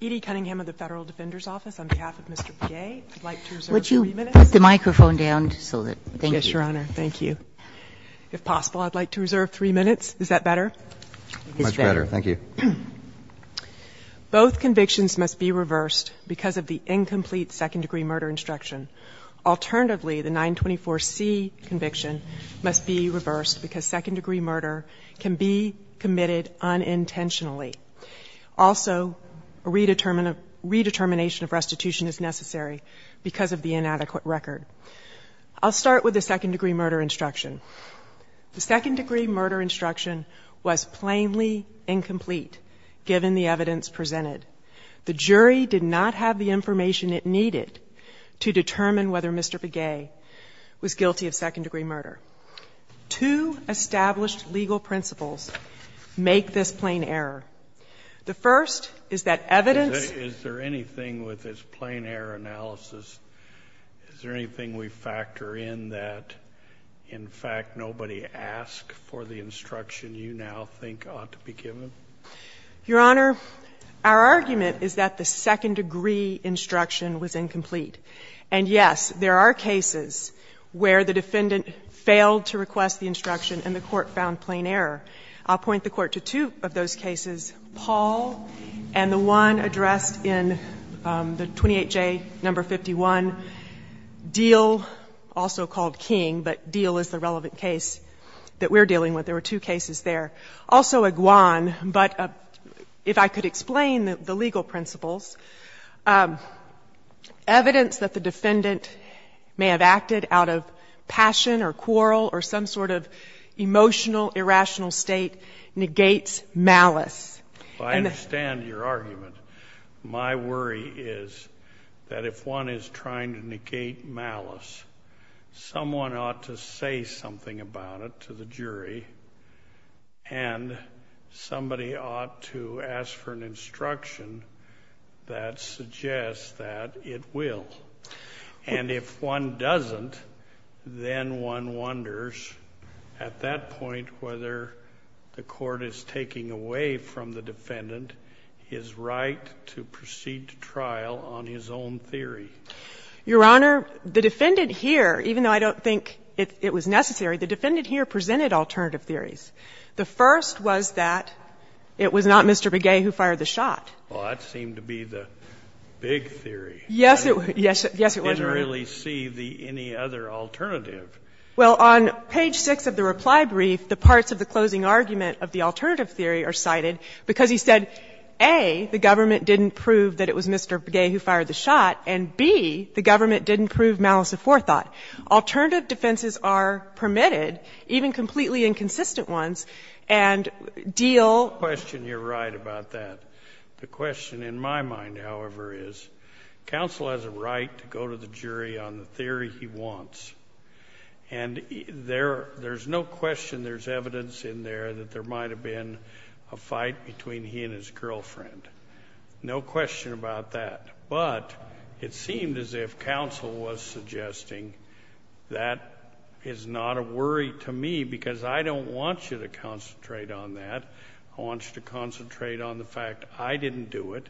Edie Cunningham of the Federal Defender's Office, on behalf of Mr. Begay, I'd like to reserve three minutes. Would you put the microphone down? Yes, Your Honor. Thank you. If possible, I'd like to reserve three minutes. Is that better? Much better. Thank you. Both convictions must be reversed because of the incomplete second-degree murder instruction. Alternatively, the 924C conviction must be reversed because second-degree murder can be committed unintentionally. Also, a redetermination of restitution is necessary because of the inadequate record. I'll start with the second-degree murder instruction. The second-degree murder instruction was plainly incomplete, given the evidence presented. The jury did not have the information it needed to determine whether Mr. Begay was guilty of second-degree murder. Two established legal principles make this plain error. The first is that evidence Is there anything with this plain error analysis, is there anything we factor in that, in fact, nobody asked for the instruction you now think ought to be given? Your Honor, our argument is that the second-degree instruction was incomplete. And, yes, there are cases where the defendant failed to request the instruction and the Court found plain error. I'll point the Court to two of those cases, Paul and the one addressed in the 28J, No. 51, Diehl, also called King, but Diehl is the relevant case that we're dealing with. There were two cases there. Also Iguan, but if I could explain the legal principles, evidence that the defendant may have acted out of passion or quarrel or some sort of emotional, irrational state negates malice. I understand your argument. My worry is that if one is trying to negate malice, someone ought to say something about it to the jury and somebody ought to ask for an instruction that suggests that it will. And if one doesn't, then one wonders at that point whether the Court is taking away from the defendant his right to proceed to trial on his own theory. Your Honor, the defendant here, even though I don't think it was necessary, the defendant here presented alternative theories. The first was that it was not Mr. Begay who fired the shot. Well, that seemed to be the big theory. Yes, it was. I didn't really see any other alternative. Well, on page 6 of the reply brief, the parts of the closing argument of the alternative theory are cited because he said, A, the government didn't prove that it was Mr. Begay who fired the shot, and, B, the government didn't prove malice of forethought. Alternative defenses are permitted, even completely inconsistent ones, and deal. The question you're right about that. The question in my mind, however, is counsel has a right to go to the jury on the theory he wants, and there's no question there's evidence in there that there might have been a fight between he and his girlfriend. No question about that. But it seemed as if counsel was suggesting that is not a worry to me because I don't want you to concentrate on that. I want you to concentrate on the fact I didn't do it,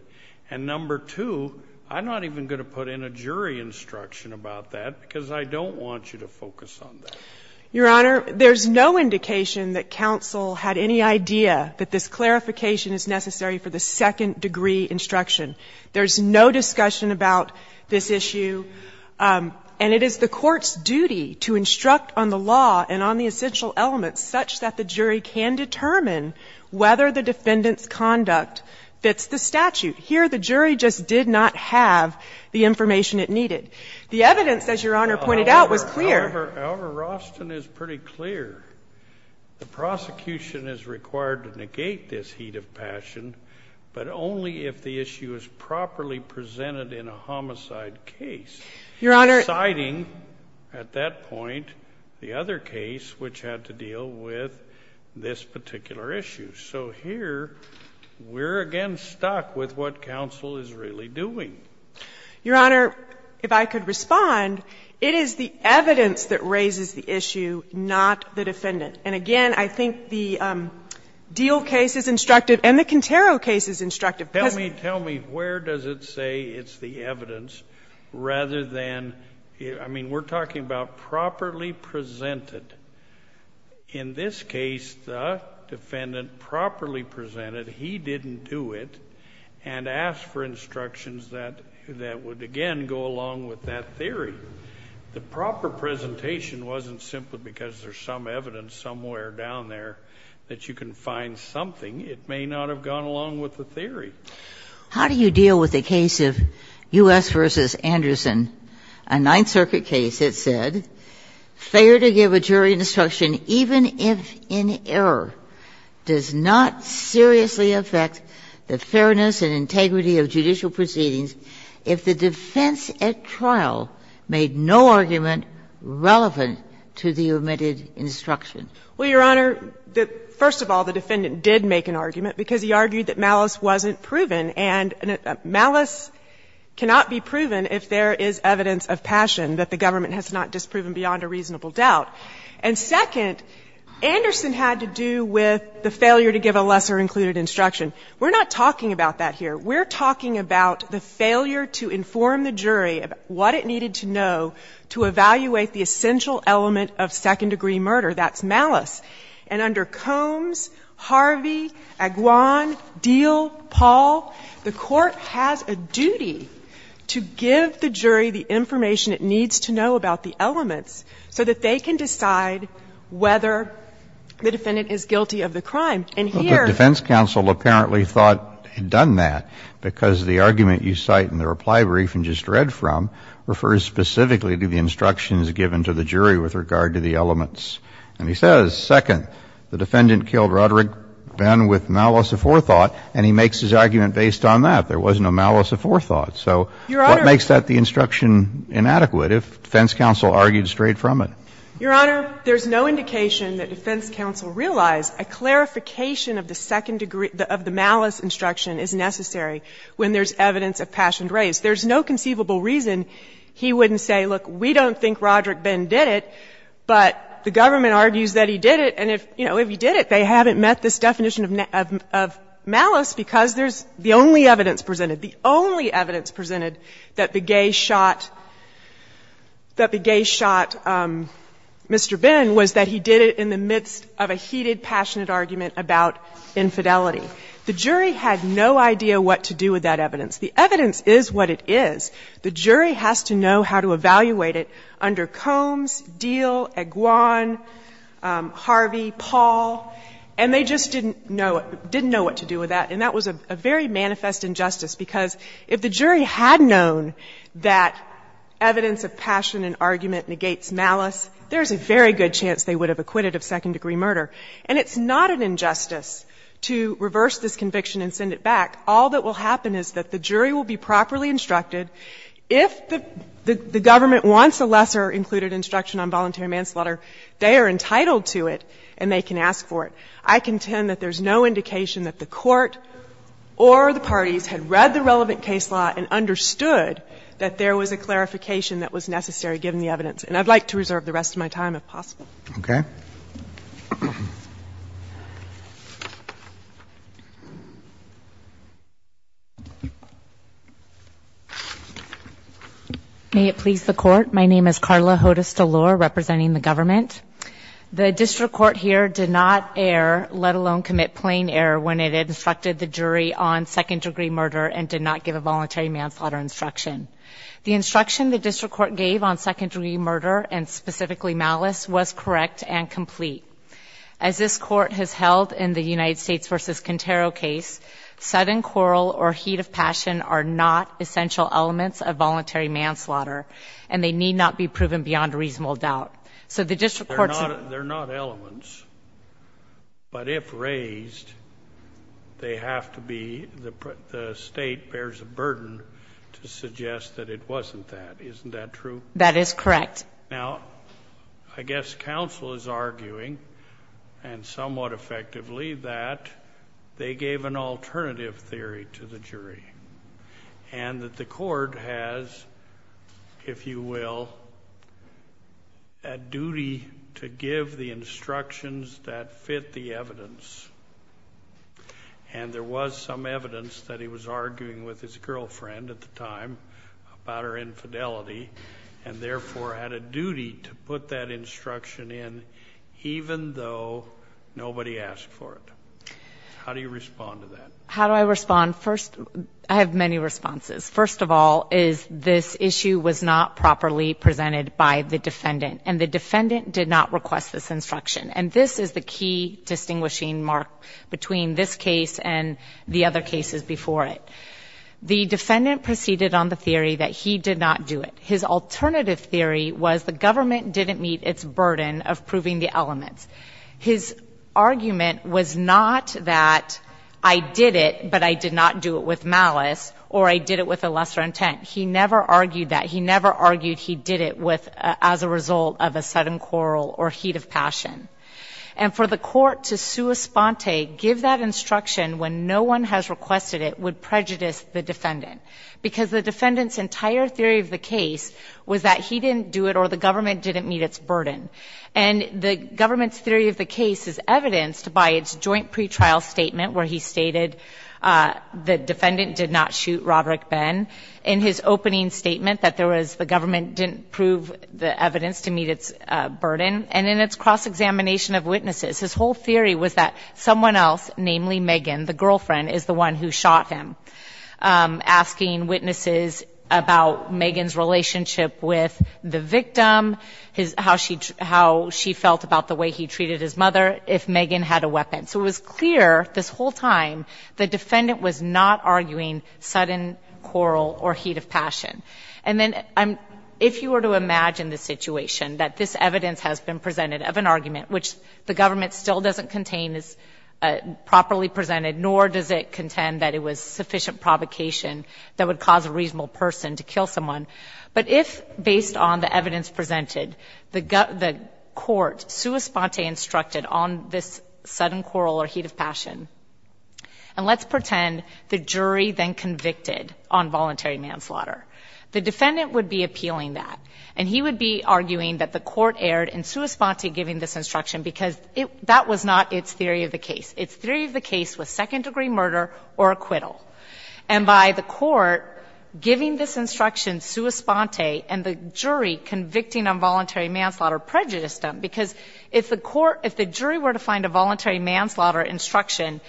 and, number two, I'm not even going to put in a jury instruction about that because I don't want you to focus on that. Your Honor, there's no indication that counsel had any idea that this clarification is necessary for the second degree instruction. There's no discussion about this issue. And it is the Court's duty to instruct on the law and on the essential elements such that the jury can determine whether the defendant's conduct fits the statute. Here, the jury just did not have the information it needed. The evidence, as Your Honor pointed out, was clear. Alvar Rosten is pretty clear. The prosecution is required to negate this heat of passion, but only if the issue is properly presented in a homicide case. Your Honor. Citing, at that point, the other case which had to deal with this particular issue. So here, we're again stuck with what counsel is really doing. Your Honor, if I could respond, it is the evidence that raises the issue, not the defendant. And, again, I think the Diehl case is instructive and the Cantero case is instructive because of the evidence. Tell me where does it say it's the evidence rather than, I mean, we're talking about properly presented. In this case, the defendant properly presented. He didn't do it. And asked for instructions that would, again, go along with that theory. The proper presentation wasn't simply because there's some evidence somewhere down there that you can find something. It may not have gone along with the theory. How do you deal with a case of U.S. v. Anderson, a Ninth Circuit case that said, Well, Your Honor, first of all, the defendant did make an argument because he argued that malice wasn't proven, and malice cannot be proven if there is evidence of passion that the government has not disproven. beyond a reasonable doubt. And, second, Anderson had to do with the failure to give a lesser-included instruction. We're not talking about that here. We're talking about the failure to inform the jury of what it needed to know to evaluate the essential element of second-degree murder. That's malice. And under Combs, Harvey, Aguan, Diehl, Paul, the Court has a duty to give the jury the information it needs to know about the elements so that they can decide whether the defendant is guilty of the crime. And here the defense counsel apparently thought he'd done that because the argument you cite in the reply brief and just read from refers specifically to the instructions given to the jury with regard to the elements. And he says, second, the defendant killed Roderick Benn with malice aforethought, and he makes his argument based on that. There was no malice aforethought. So what makes that the instruction inadequate if defense counsel argued straight from it? Your Honor, there's no indication that defense counsel realized a clarification of the second-degree of the malice instruction is necessary when there's evidence of passion raised. There's no conceivable reason he wouldn't say, look, we don't think Roderick Benn did it, but the government argues that he did it. And if, you know, if he did it, they haven't met this definition of malice because there's the only evidence presented. The only evidence presented that the gay shot Mr. Benn was that he did it in the midst of a heated, passionate argument about infidelity. The jury had no idea what to do with that evidence. The evidence is what it is. The jury has to know how to evaluate it under Combs, Deal, Eguan, Harvey, Paul, and they just didn't know what to do with that. And that was a very manifest injustice because if the jury had known that evidence of passion and argument negates malice, there's a very good chance they would have acquitted of second-degree murder. And it's not an injustice to reverse this conviction and send it back. All that will happen is that the jury will be properly instructed. If the government wants a lesser included instruction on voluntary manslaughter, they are entitled to it and they can ask for it. I contend that there's no indication that the Court or the parties had read the relevant case law and understood that there was a clarification that was necessary given the evidence. And I'd like to reserve the rest of my time, if possible. Roberts. May it please the Court. My name is Carla Hodes-Delor, representing the government. The district court here did not err, let alone commit plain error, when it instructed the jury on second-degree murder and did not give a voluntary manslaughter instruction. The instruction the district court gave on second-degree murder, and specifically malice, was correct and complete. As this Court has held in the United States v. Contero case, sudden quarrel or heat of passion are not essential elements of voluntary manslaughter, and they need not be proven beyond reasonable doubt. So the district courts They're not elements, but if raised, they have to be the state bears a burden to suggest that it wasn't that. Isn't that true? That is correct. Now, I guess counsel is arguing, and somewhat effectively, that they gave an alternative theory to the jury, and that the court has, if you will, a duty to give the instructions that fit the evidence, and there was some evidence that he was arguing with his girlfriend at the time about her infidelity, and therefore had a duty to put that instruction in even though nobody asked for it. How do you respond to that? How do I respond? First, I have many responses. First of all is this issue was not properly presented by the defendant, and the defendant did not request this instruction. And this is the key distinguishing mark between this case and the other cases before it. The defendant proceeded on the theory that he did not do it. His alternative theory was the government didn't meet its burden of proving the elements. His argument was not that I did it, but I did not do it with malice, or I did it with a lesser intent. He never argued that. He never argued he did it as a result of a sudden quarrel or heat of passion. And for the court to sua sponte, give that instruction when no one has requested it, would prejudice the defendant, because the defendant's entire theory of the case was that he didn't do it or the government didn't meet its burden. And the government's theory of the case is evidenced by its joint pretrial statement where he stated the defendant did not shoot Roderick Benn. In his opening statement that there was the government didn't prove the evidence to meet its burden. And in its cross-examination of witnesses, his whole theory was that someone else, namely Megan, the girlfriend, is the one who shot him. Asking witnesses about Megan's relationship with the victim, how she felt about the way he treated his mother, if Megan had a weapon. So it was clear this whole time the defendant was not arguing sudden quarrel or heat of passion. And then if you were to imagine the situation, that this evidence has been presented of an argument, which the government still doesn't contain is properly presented, nor does it contend that it was sufficient provocation that would cause a reasonable person to kill someone. But if, based on the evidence presented, the court, sua sponte instructed on this sudden quarrel or heat of passion, and let's pretend the jury then convicted on voluntary manslaughter. The defendant would be appealing that. And he would be arguing that the court erred in sua sponte giving this instruction because that was not its theory of the case. Its theory of the case was second-degree murder or acquittal. And by the court giving this instruction sua sponte and the jury convicting on voluntary manslaughter prejudiced them. Because if the court, if the jury were to find a voluntary manslaughter instruction,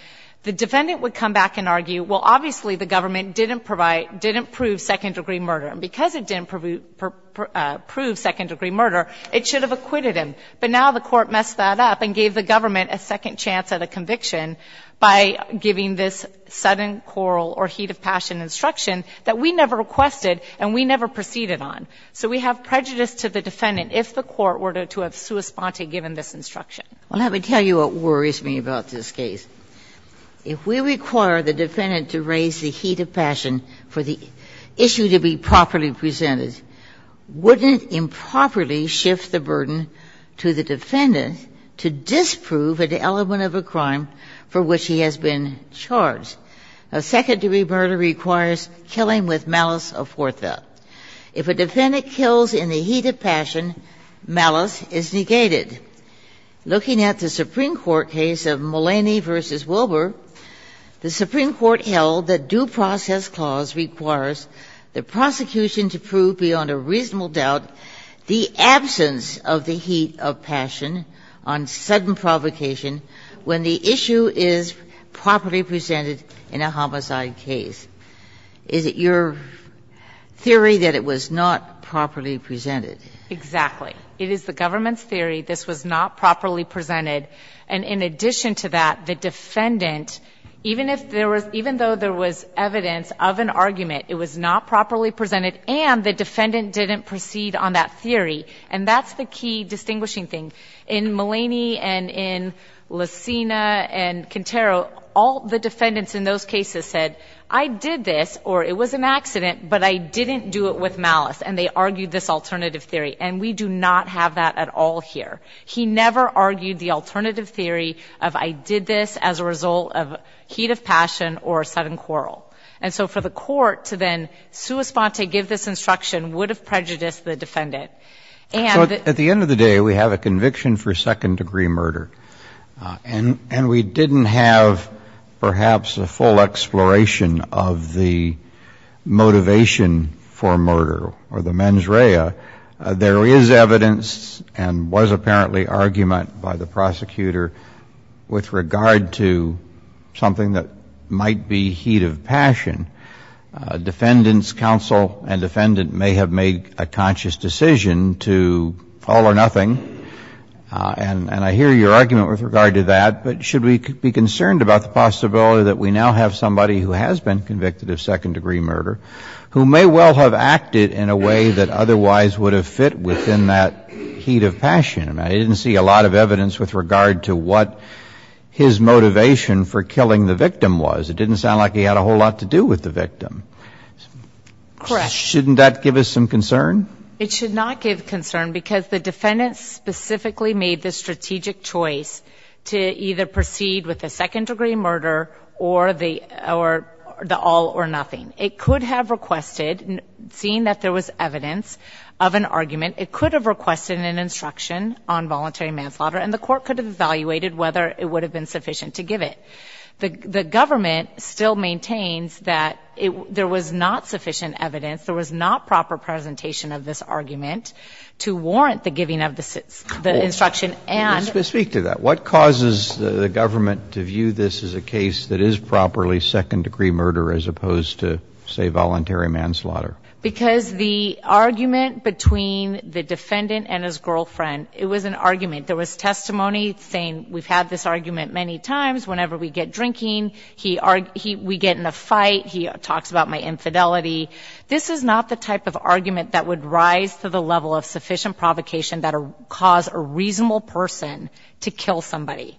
the defendant would come back and argue, well, obviously the government didn't provide, didn't prove second-degree murder. And because it didn't prove second-degree murder, it should have acquitted him. But now the court messed that up and gave the government a second chance at a instruction that we never requested and we never proceeded on. So we have prejudice to the defendant if the court were to have sua sponte given this instruction. Ginsburg. Well, let me tell you what worries me about this case. If we require the defendant to raise the heat of passion for the issue to be properly presented, wouldn't it improperly shift the burden to the defendant to disprove an element of a crime for which he has been charged? A second-degree murder requires killing with malice a forth. If a defendant kills in the heat of passion, malice is negated. Looking at the Supreme Court case of Mulaney v. Wilbur, the Supreme Court held that due process clause requires the prosecution to prove beyond a reasonable doubt the absence of the heat of passion on sudden provocation when the issue is properly presented in a homicide case. Is it your theory that it was not properly presented? Exactly. It is the government's theory this was not properly presented. And in addition to that, the defendant, even if there was – even though there was evidence of an argument, it was not properly presented and the defendant didn't proceed on that theory. And that's the key distinguishing thing. In Mulaney and in Licina and Quintero, all the defendants in those cases said, I did this, or it was an accident, but I didn't do it with malice. And they argued this alternative theory. And we do not have that at all here. He never argued the alternative theory of I did this as a result of heat of passion or sudden quarrel. And so for the court to then sua sponte, give this instruction, would have prejudiced the defendant. At the end of the day, we have a conviction for second-degree murder. And we didn't have perhaps a full exploration of the motivation for murder or the mens rea. There is evidence and was apparently argument by the prosecutor with regard to something that might be heat of passion. Defendant's counsel and defendant may have made a conscious decision to all or nothing. And I hear your argument with regard to that. But should we be concerned about the possibility that we now have somebody who has been convicted of second-degree murder who may well have acted in a way that otherwise would have fit within that heat of passion? I didn't see a lot of evidence with regard to what his motivation for killing the victim was. It didn't sound like he had a whole lot to do with the victim. Correct. Shouldn't that give us some concern? It should not give concern because the defendant specifically made the strategic choice to either proceed with the second-degree murder or the all or nothing. It could have requested, seeing that there was evidence of an argument, it could have requested an instruction on voluntary manslaughter. And the court could have evaluated whether it would have been sufficient to give it. The government still maintains that there was not sufficient evidence, there was not proper presentation of this argument to warrant the giving of the instruction and to speak to that. What causes the government to view this as a case that is properly second-degree murder as opposed to, say, voluntary manslaughter? Because the argument between the defendant and his girlfriend, it was an argument. There was testimony saying we've had this argument many times. Whenever we get drinking, we get in a fight, he talks about my infidelity. This is not the type of argument that would rise to the level of sufficient provocation that would cause a reasonable person to kill somebody.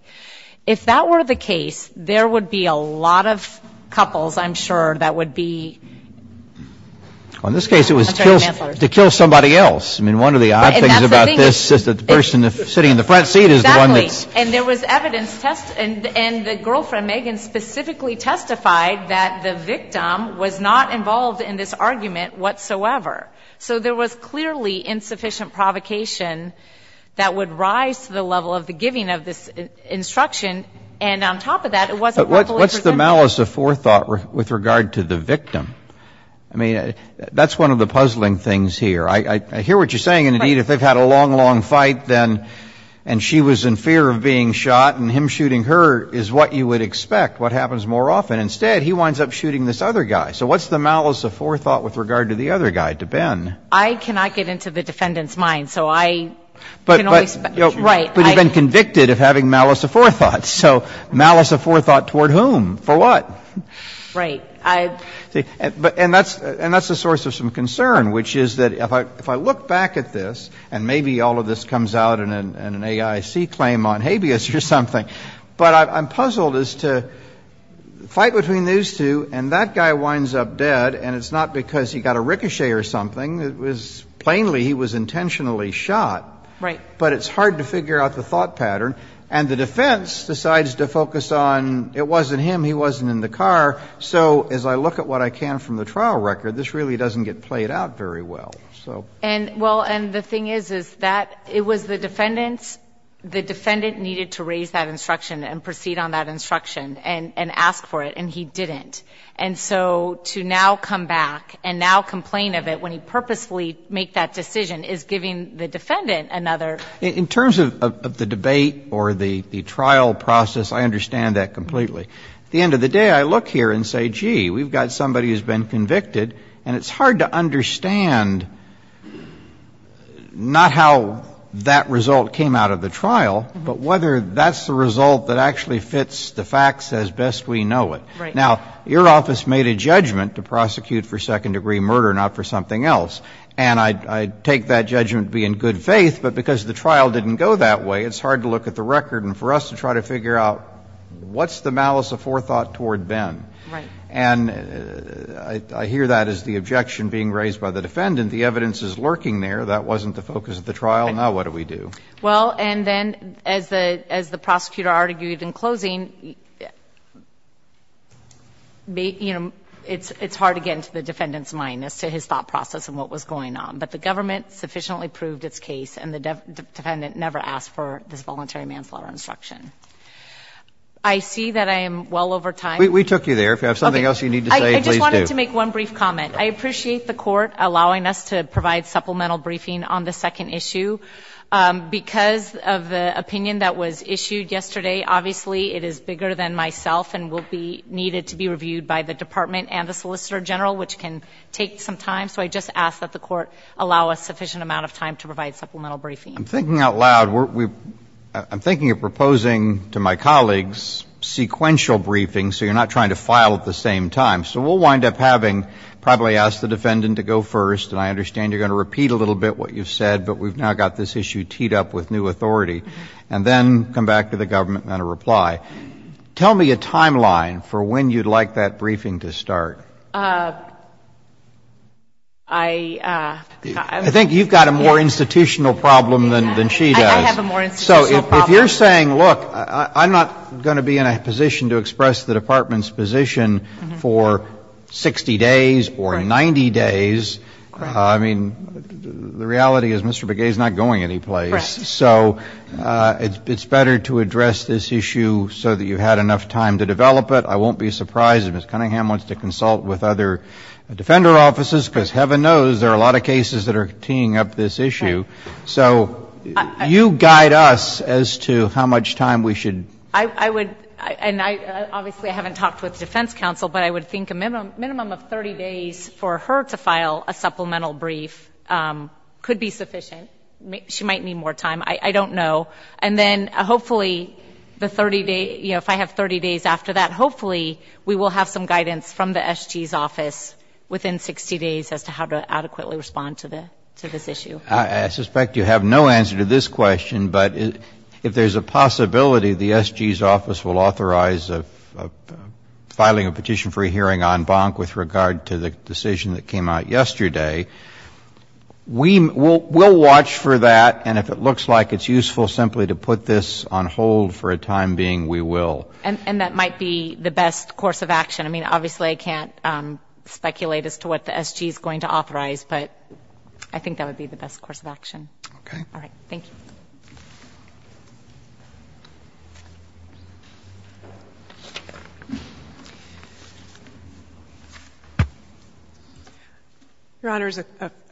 If that were the case, there would be a lot of couples, I'm sure, that would be On this case, it was to kill somebody else. I mean, one of the odd things about this is that the person sitting in the front seat is the one that's Exactly. And there was evidence and the girlfriend, Megan, specifically testified that the victim was not involved in this argument whatsoever. So there was clearly insufficient provocation that would rise to the level of the giving of this instruction. And on top of that, it wasn't properly presented. But what's the malice of forethought with regard to the victim? I mean, that's one of the puzzling things here. I hear what you're saying. And, indeed, if they've had a long, long fight, then, and she was in fear of being shot, and him shooting her is what you would expect, what happens more often? Instead, he winds up shooting this other guy. So what's the malice of forethought with regard to the other guy, to Ben? I cannot get into the defendant's mind. So I can only expect But you've been convicted of having malice of forethought. So malice of forethought toward whom? For what? Right. And that's the source of some concern, which is that if I look back at this, and maybe all of this comes out in an AIC claim on habeas or something, but I'm puzzled as to fight between these two, and that guy winds up dead, and it's not because he got a ricochet or something. It was plainly he was intentionally shot. Right. But it's hard to figure out the thought pattern. And the defense decides to focus on it wasn't him, he wasn't in the car. So as I look at what I can from the trial record, this really doesn't get played out very well. And, well, and the thing is, is that it was the defendant's, the defendant needed to raise that instruction and proceed on that instruction and ask for it, and he didn't. And so to now come back and now complain of it when he purposefully made that decision is giving the defendant another In terms of the debate or the trial process, I understand that completely. At the end of the day, I look here and say, gee, we've got somebody who's been convicted, and it's hard to understand not how that result came out of the trial, but whether that's the result that actually fits the facts as best we know it. Right. Now, your office made a judgment to prosecute for second-degree murder, not for something else. And I take that judgment to be in good faith, but because the trial didn't go that way, it's hard to look at the record. And for us to try to figure out what's the malice of forethought toward Ben. Right. And I hear that as the objection being raised by the defendant. The evidence is lurking there. That wasn't the focus of the trial. Now what do we do? Well, and then as the prosecutor argued in closing, you know, it's hard to get into the defendant's mind as to his thought process and what was going on. But the government sufficiently proved its case, and the defendant never asked for this voluntary manslaughter instruction. I see that I am well over time. We took you there. If you have something else you need to say, please do. I just wanted to make one brief comment. I appreciate the court allowing us to provide supplemental briefing on the second issue. Because of the opinion that was issued yesterday, obviously it is bigger than myself and will be needed to be reviewed by the department and the solicitor general, which can take some time. So I just ask that the court allow a sufficient amount of time to provide supplemental briefing. I'm thinking out loud. I'm thinking of proposing to my colleagues sequential briefings, so you're not trying to file at the same time. So we'll wind up having probably ask the defendant to go first. And I understand you're going to repeat a little bit what you've said, but we've now got this issue teed up with new authority. And then come back to the government and then a reply. Tell me a timeline for when you'd like that briefing to start. I think you've got a more institutional problem than she does. I have a more institutional problem. So if you're saying, look, I'm not going to be in a position to express the department's position for 60 days or 90 days, I mean, the reality is Mr. Begay is not going anyplace. Correct. So it's better to address this issue so that you've had enough time to develop it. with other defender offices, because heaven knows there are a lot of cases that are teeing up this issue. So you guide us as to how much time we should. I would, and obviously I haven't talked with defense counsel, but I would think a minimum of 30 days for her to file a supplemental brief could be sufficient. She might need more time. I don't know. And then hopefully the 30 days, you know, if I have 30 days after that, hopefully we will have some guidance from the SG's office within 60 days as to how to adequately respond to this issue. I suspect you have no answer to this question, but if there's a possibility the SG's office will authorize filing a petition for a hearing on Bonk with regard to the decision that came out yesterday, we'll watch for that. And if it looks like it's useful simply to put this on hold for a time being, we will. And that might be the best course of action. I mean, obviously I can't speculate as to what the SG's going to authorize, but I think that would be the best course of action. Okay. All right. Thank you. Your Honor,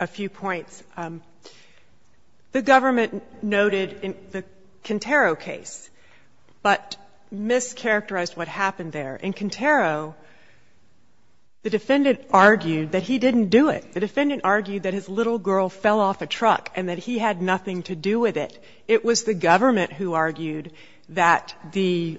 a few points. The government noted in the Contero case, but mischaracterized what happened there. In Contero, the defendant argued that he didn't do it. The defendant argued that his little girl fell off a truck and that he had nothing to do with it. It was the government who argued that the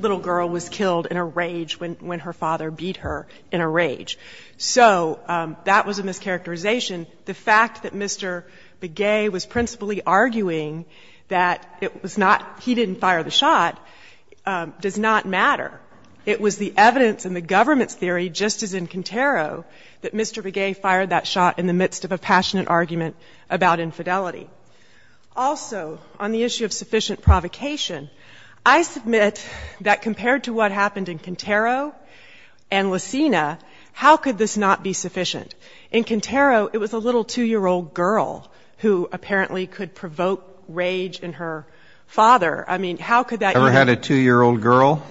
little girl was killed in a rage when her father beat her in a rage. So that was a mischaracterization. The fact that Mr. Begay was principally arguing that it was not, he didn't fire the shot, does not matter. It was the evidence in the government's theory, just as in Contero, that Mr. Begay fired that shot in the midst of a passionate argument about infidelity. Also, on the issue of sufficient provocation, I submit that compared to what happened in Contero and Lucena, how could this not be sufficient? In Contero, it was a little 2-year-old girl who apparently could provoke rage in her father. I mean, how could that be? You ever had a 2-year-old girl?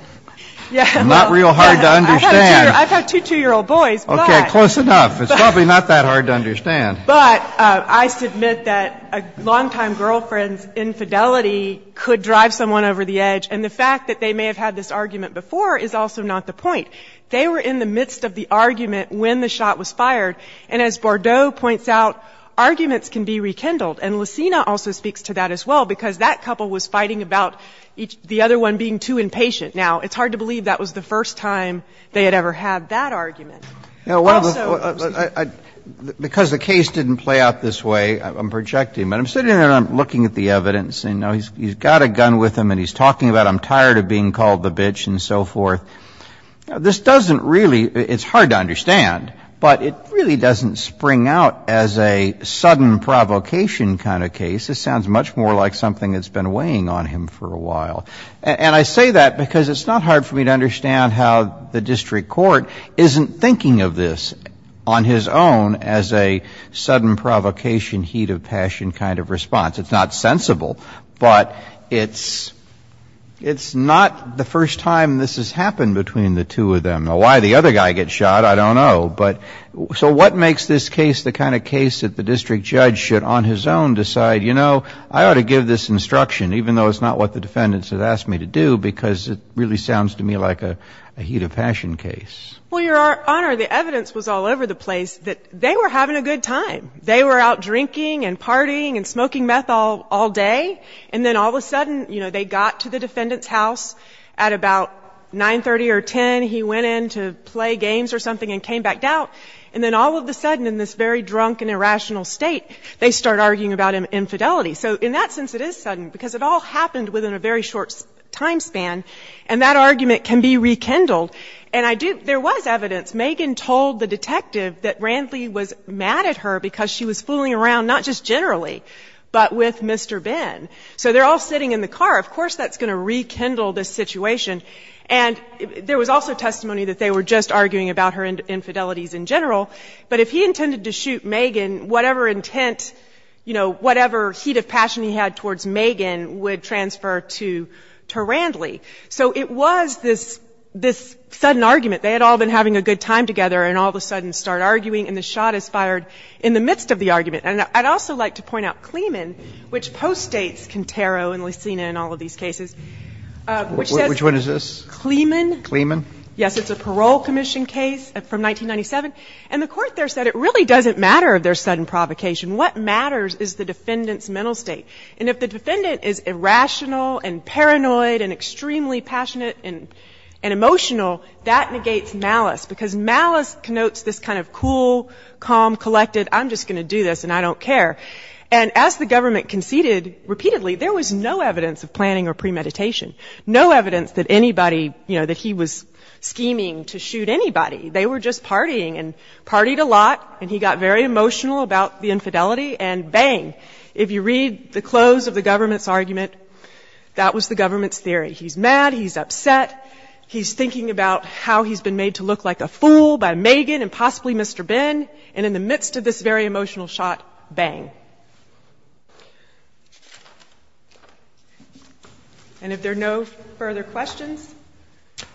Yeah. Not real hard to understand. I've had two 2-year-old boys, but. Okay, close enough. It's probably not that hard to understand. But I submit that a long-time girlfriend's infidelity could drive someone over the edge. And the fact that they may have had this argument before is also not the point. They were in the midst of the argument when the shot was fired. And as Bordeaux points out, arguments can be rekindled. And Lucena also speaks to that as well, because that couple was fighting about the other one being too impatient. Now, it's hard to believe that was the first time they had ever had that argument. Also. Because the case didn't play out this way, I'm projecting. But I'm sitting there and I'm looking at the evidence. He's got a gun with him and he's talking about I'm tired of being called the bitch and so forth. Now, this doesn't really — it's hard to understand, but it really doesn't spring out as a sudden provocation kind of case. This sounds much more like something that's been weighing on him for a while. And I say that because it's not hard for me to understand how the district court isn't thinking of this on his own as a sudden provocation, heat of passion kind of response. It's not sensible. But it's — it's not the first time this has happened between the two of them. Now, why the other guy gets shot, I don't know. But — so what makes this case the kind of case that the district judge should on his own decide, you know, I ought to give this instruction, even though it's not what the defendants have asked me to do, because it really sounds to me like a heat of passion case? Well, Your Honor, the evidence was all over the place that they were having a good time. They were out drinking and partying and smoking meth all day. And then all of a sudden, you know, they got to the defendant's house at about 9.30 or 10. He went in to play games or something and came back out. And then all of a sudden, in this very drunk and irrational state, they start arguing about infidelity. So in that sense, it is sudden, because it all happened within a very short time span. And that argument can be rekindled. And I do — there was evidence. Megan told the detective that Randley was mad at her because she was fooling around not just generally, but with Mr. Ben. So they're all sitting in the car. Of course that's going to rekindle this situation. And there was also testimony that they were just arguing about her infidelities in general. But if he intended to shoot Megan, whatever intent, you know, whatever heat of passion he had towards Megan would transfer to Randley. So it was this sudden argument. They had all been having a good time together and all of a sudden start arguing and the shot is fired in the midst of the argument. And I'd also like to point out Clemen, which postdates Quintero and Licina and all of these cases, which says — Which one is this? Clemen. Clemen? Yes. It's a parole commission case from 1997. And the Court there said it really doesn't matter if there's sudden provocation. What matters is the defendant's mental state. And if the defendant is irrational and paranoid and extremely passionate and emotional, that negates malice because malice connotes this kind of cool, calm, collected, I'm just going to do this and I don't care. And as the government conceded repeatedly, there was no evidence of planning or premeditation. No evidence that anybody, you know, that he was scheming to shoot anybody. They were just partying and partied a lot and he got very emotional about the infidelity and bang, if you read the close of the government's argument, that was the government's theory. He's mad. He's upset. He's thinking about how he's been made to look like a fool by Megan and possibly Mr. Ben. And in the midst of this very emotional shot, bang. And if there are no further questions,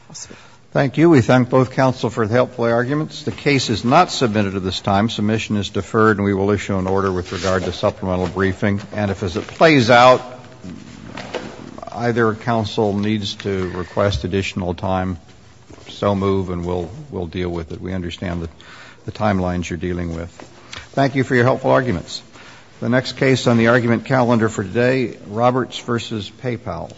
I'll stop. Thank you. We thank both counsel for the helpful arguments. The case is not submitted at this time. Submission is deferred and we will issue an order with regard to supplemental briefing. And if as it plays out, either counsel needs to request additional time, so move and we'll deal with it. We understand the timelines you're dealing with. Thank you for your helpful arguments. The next case on the argument calendar for today, Roberts v. PayPal.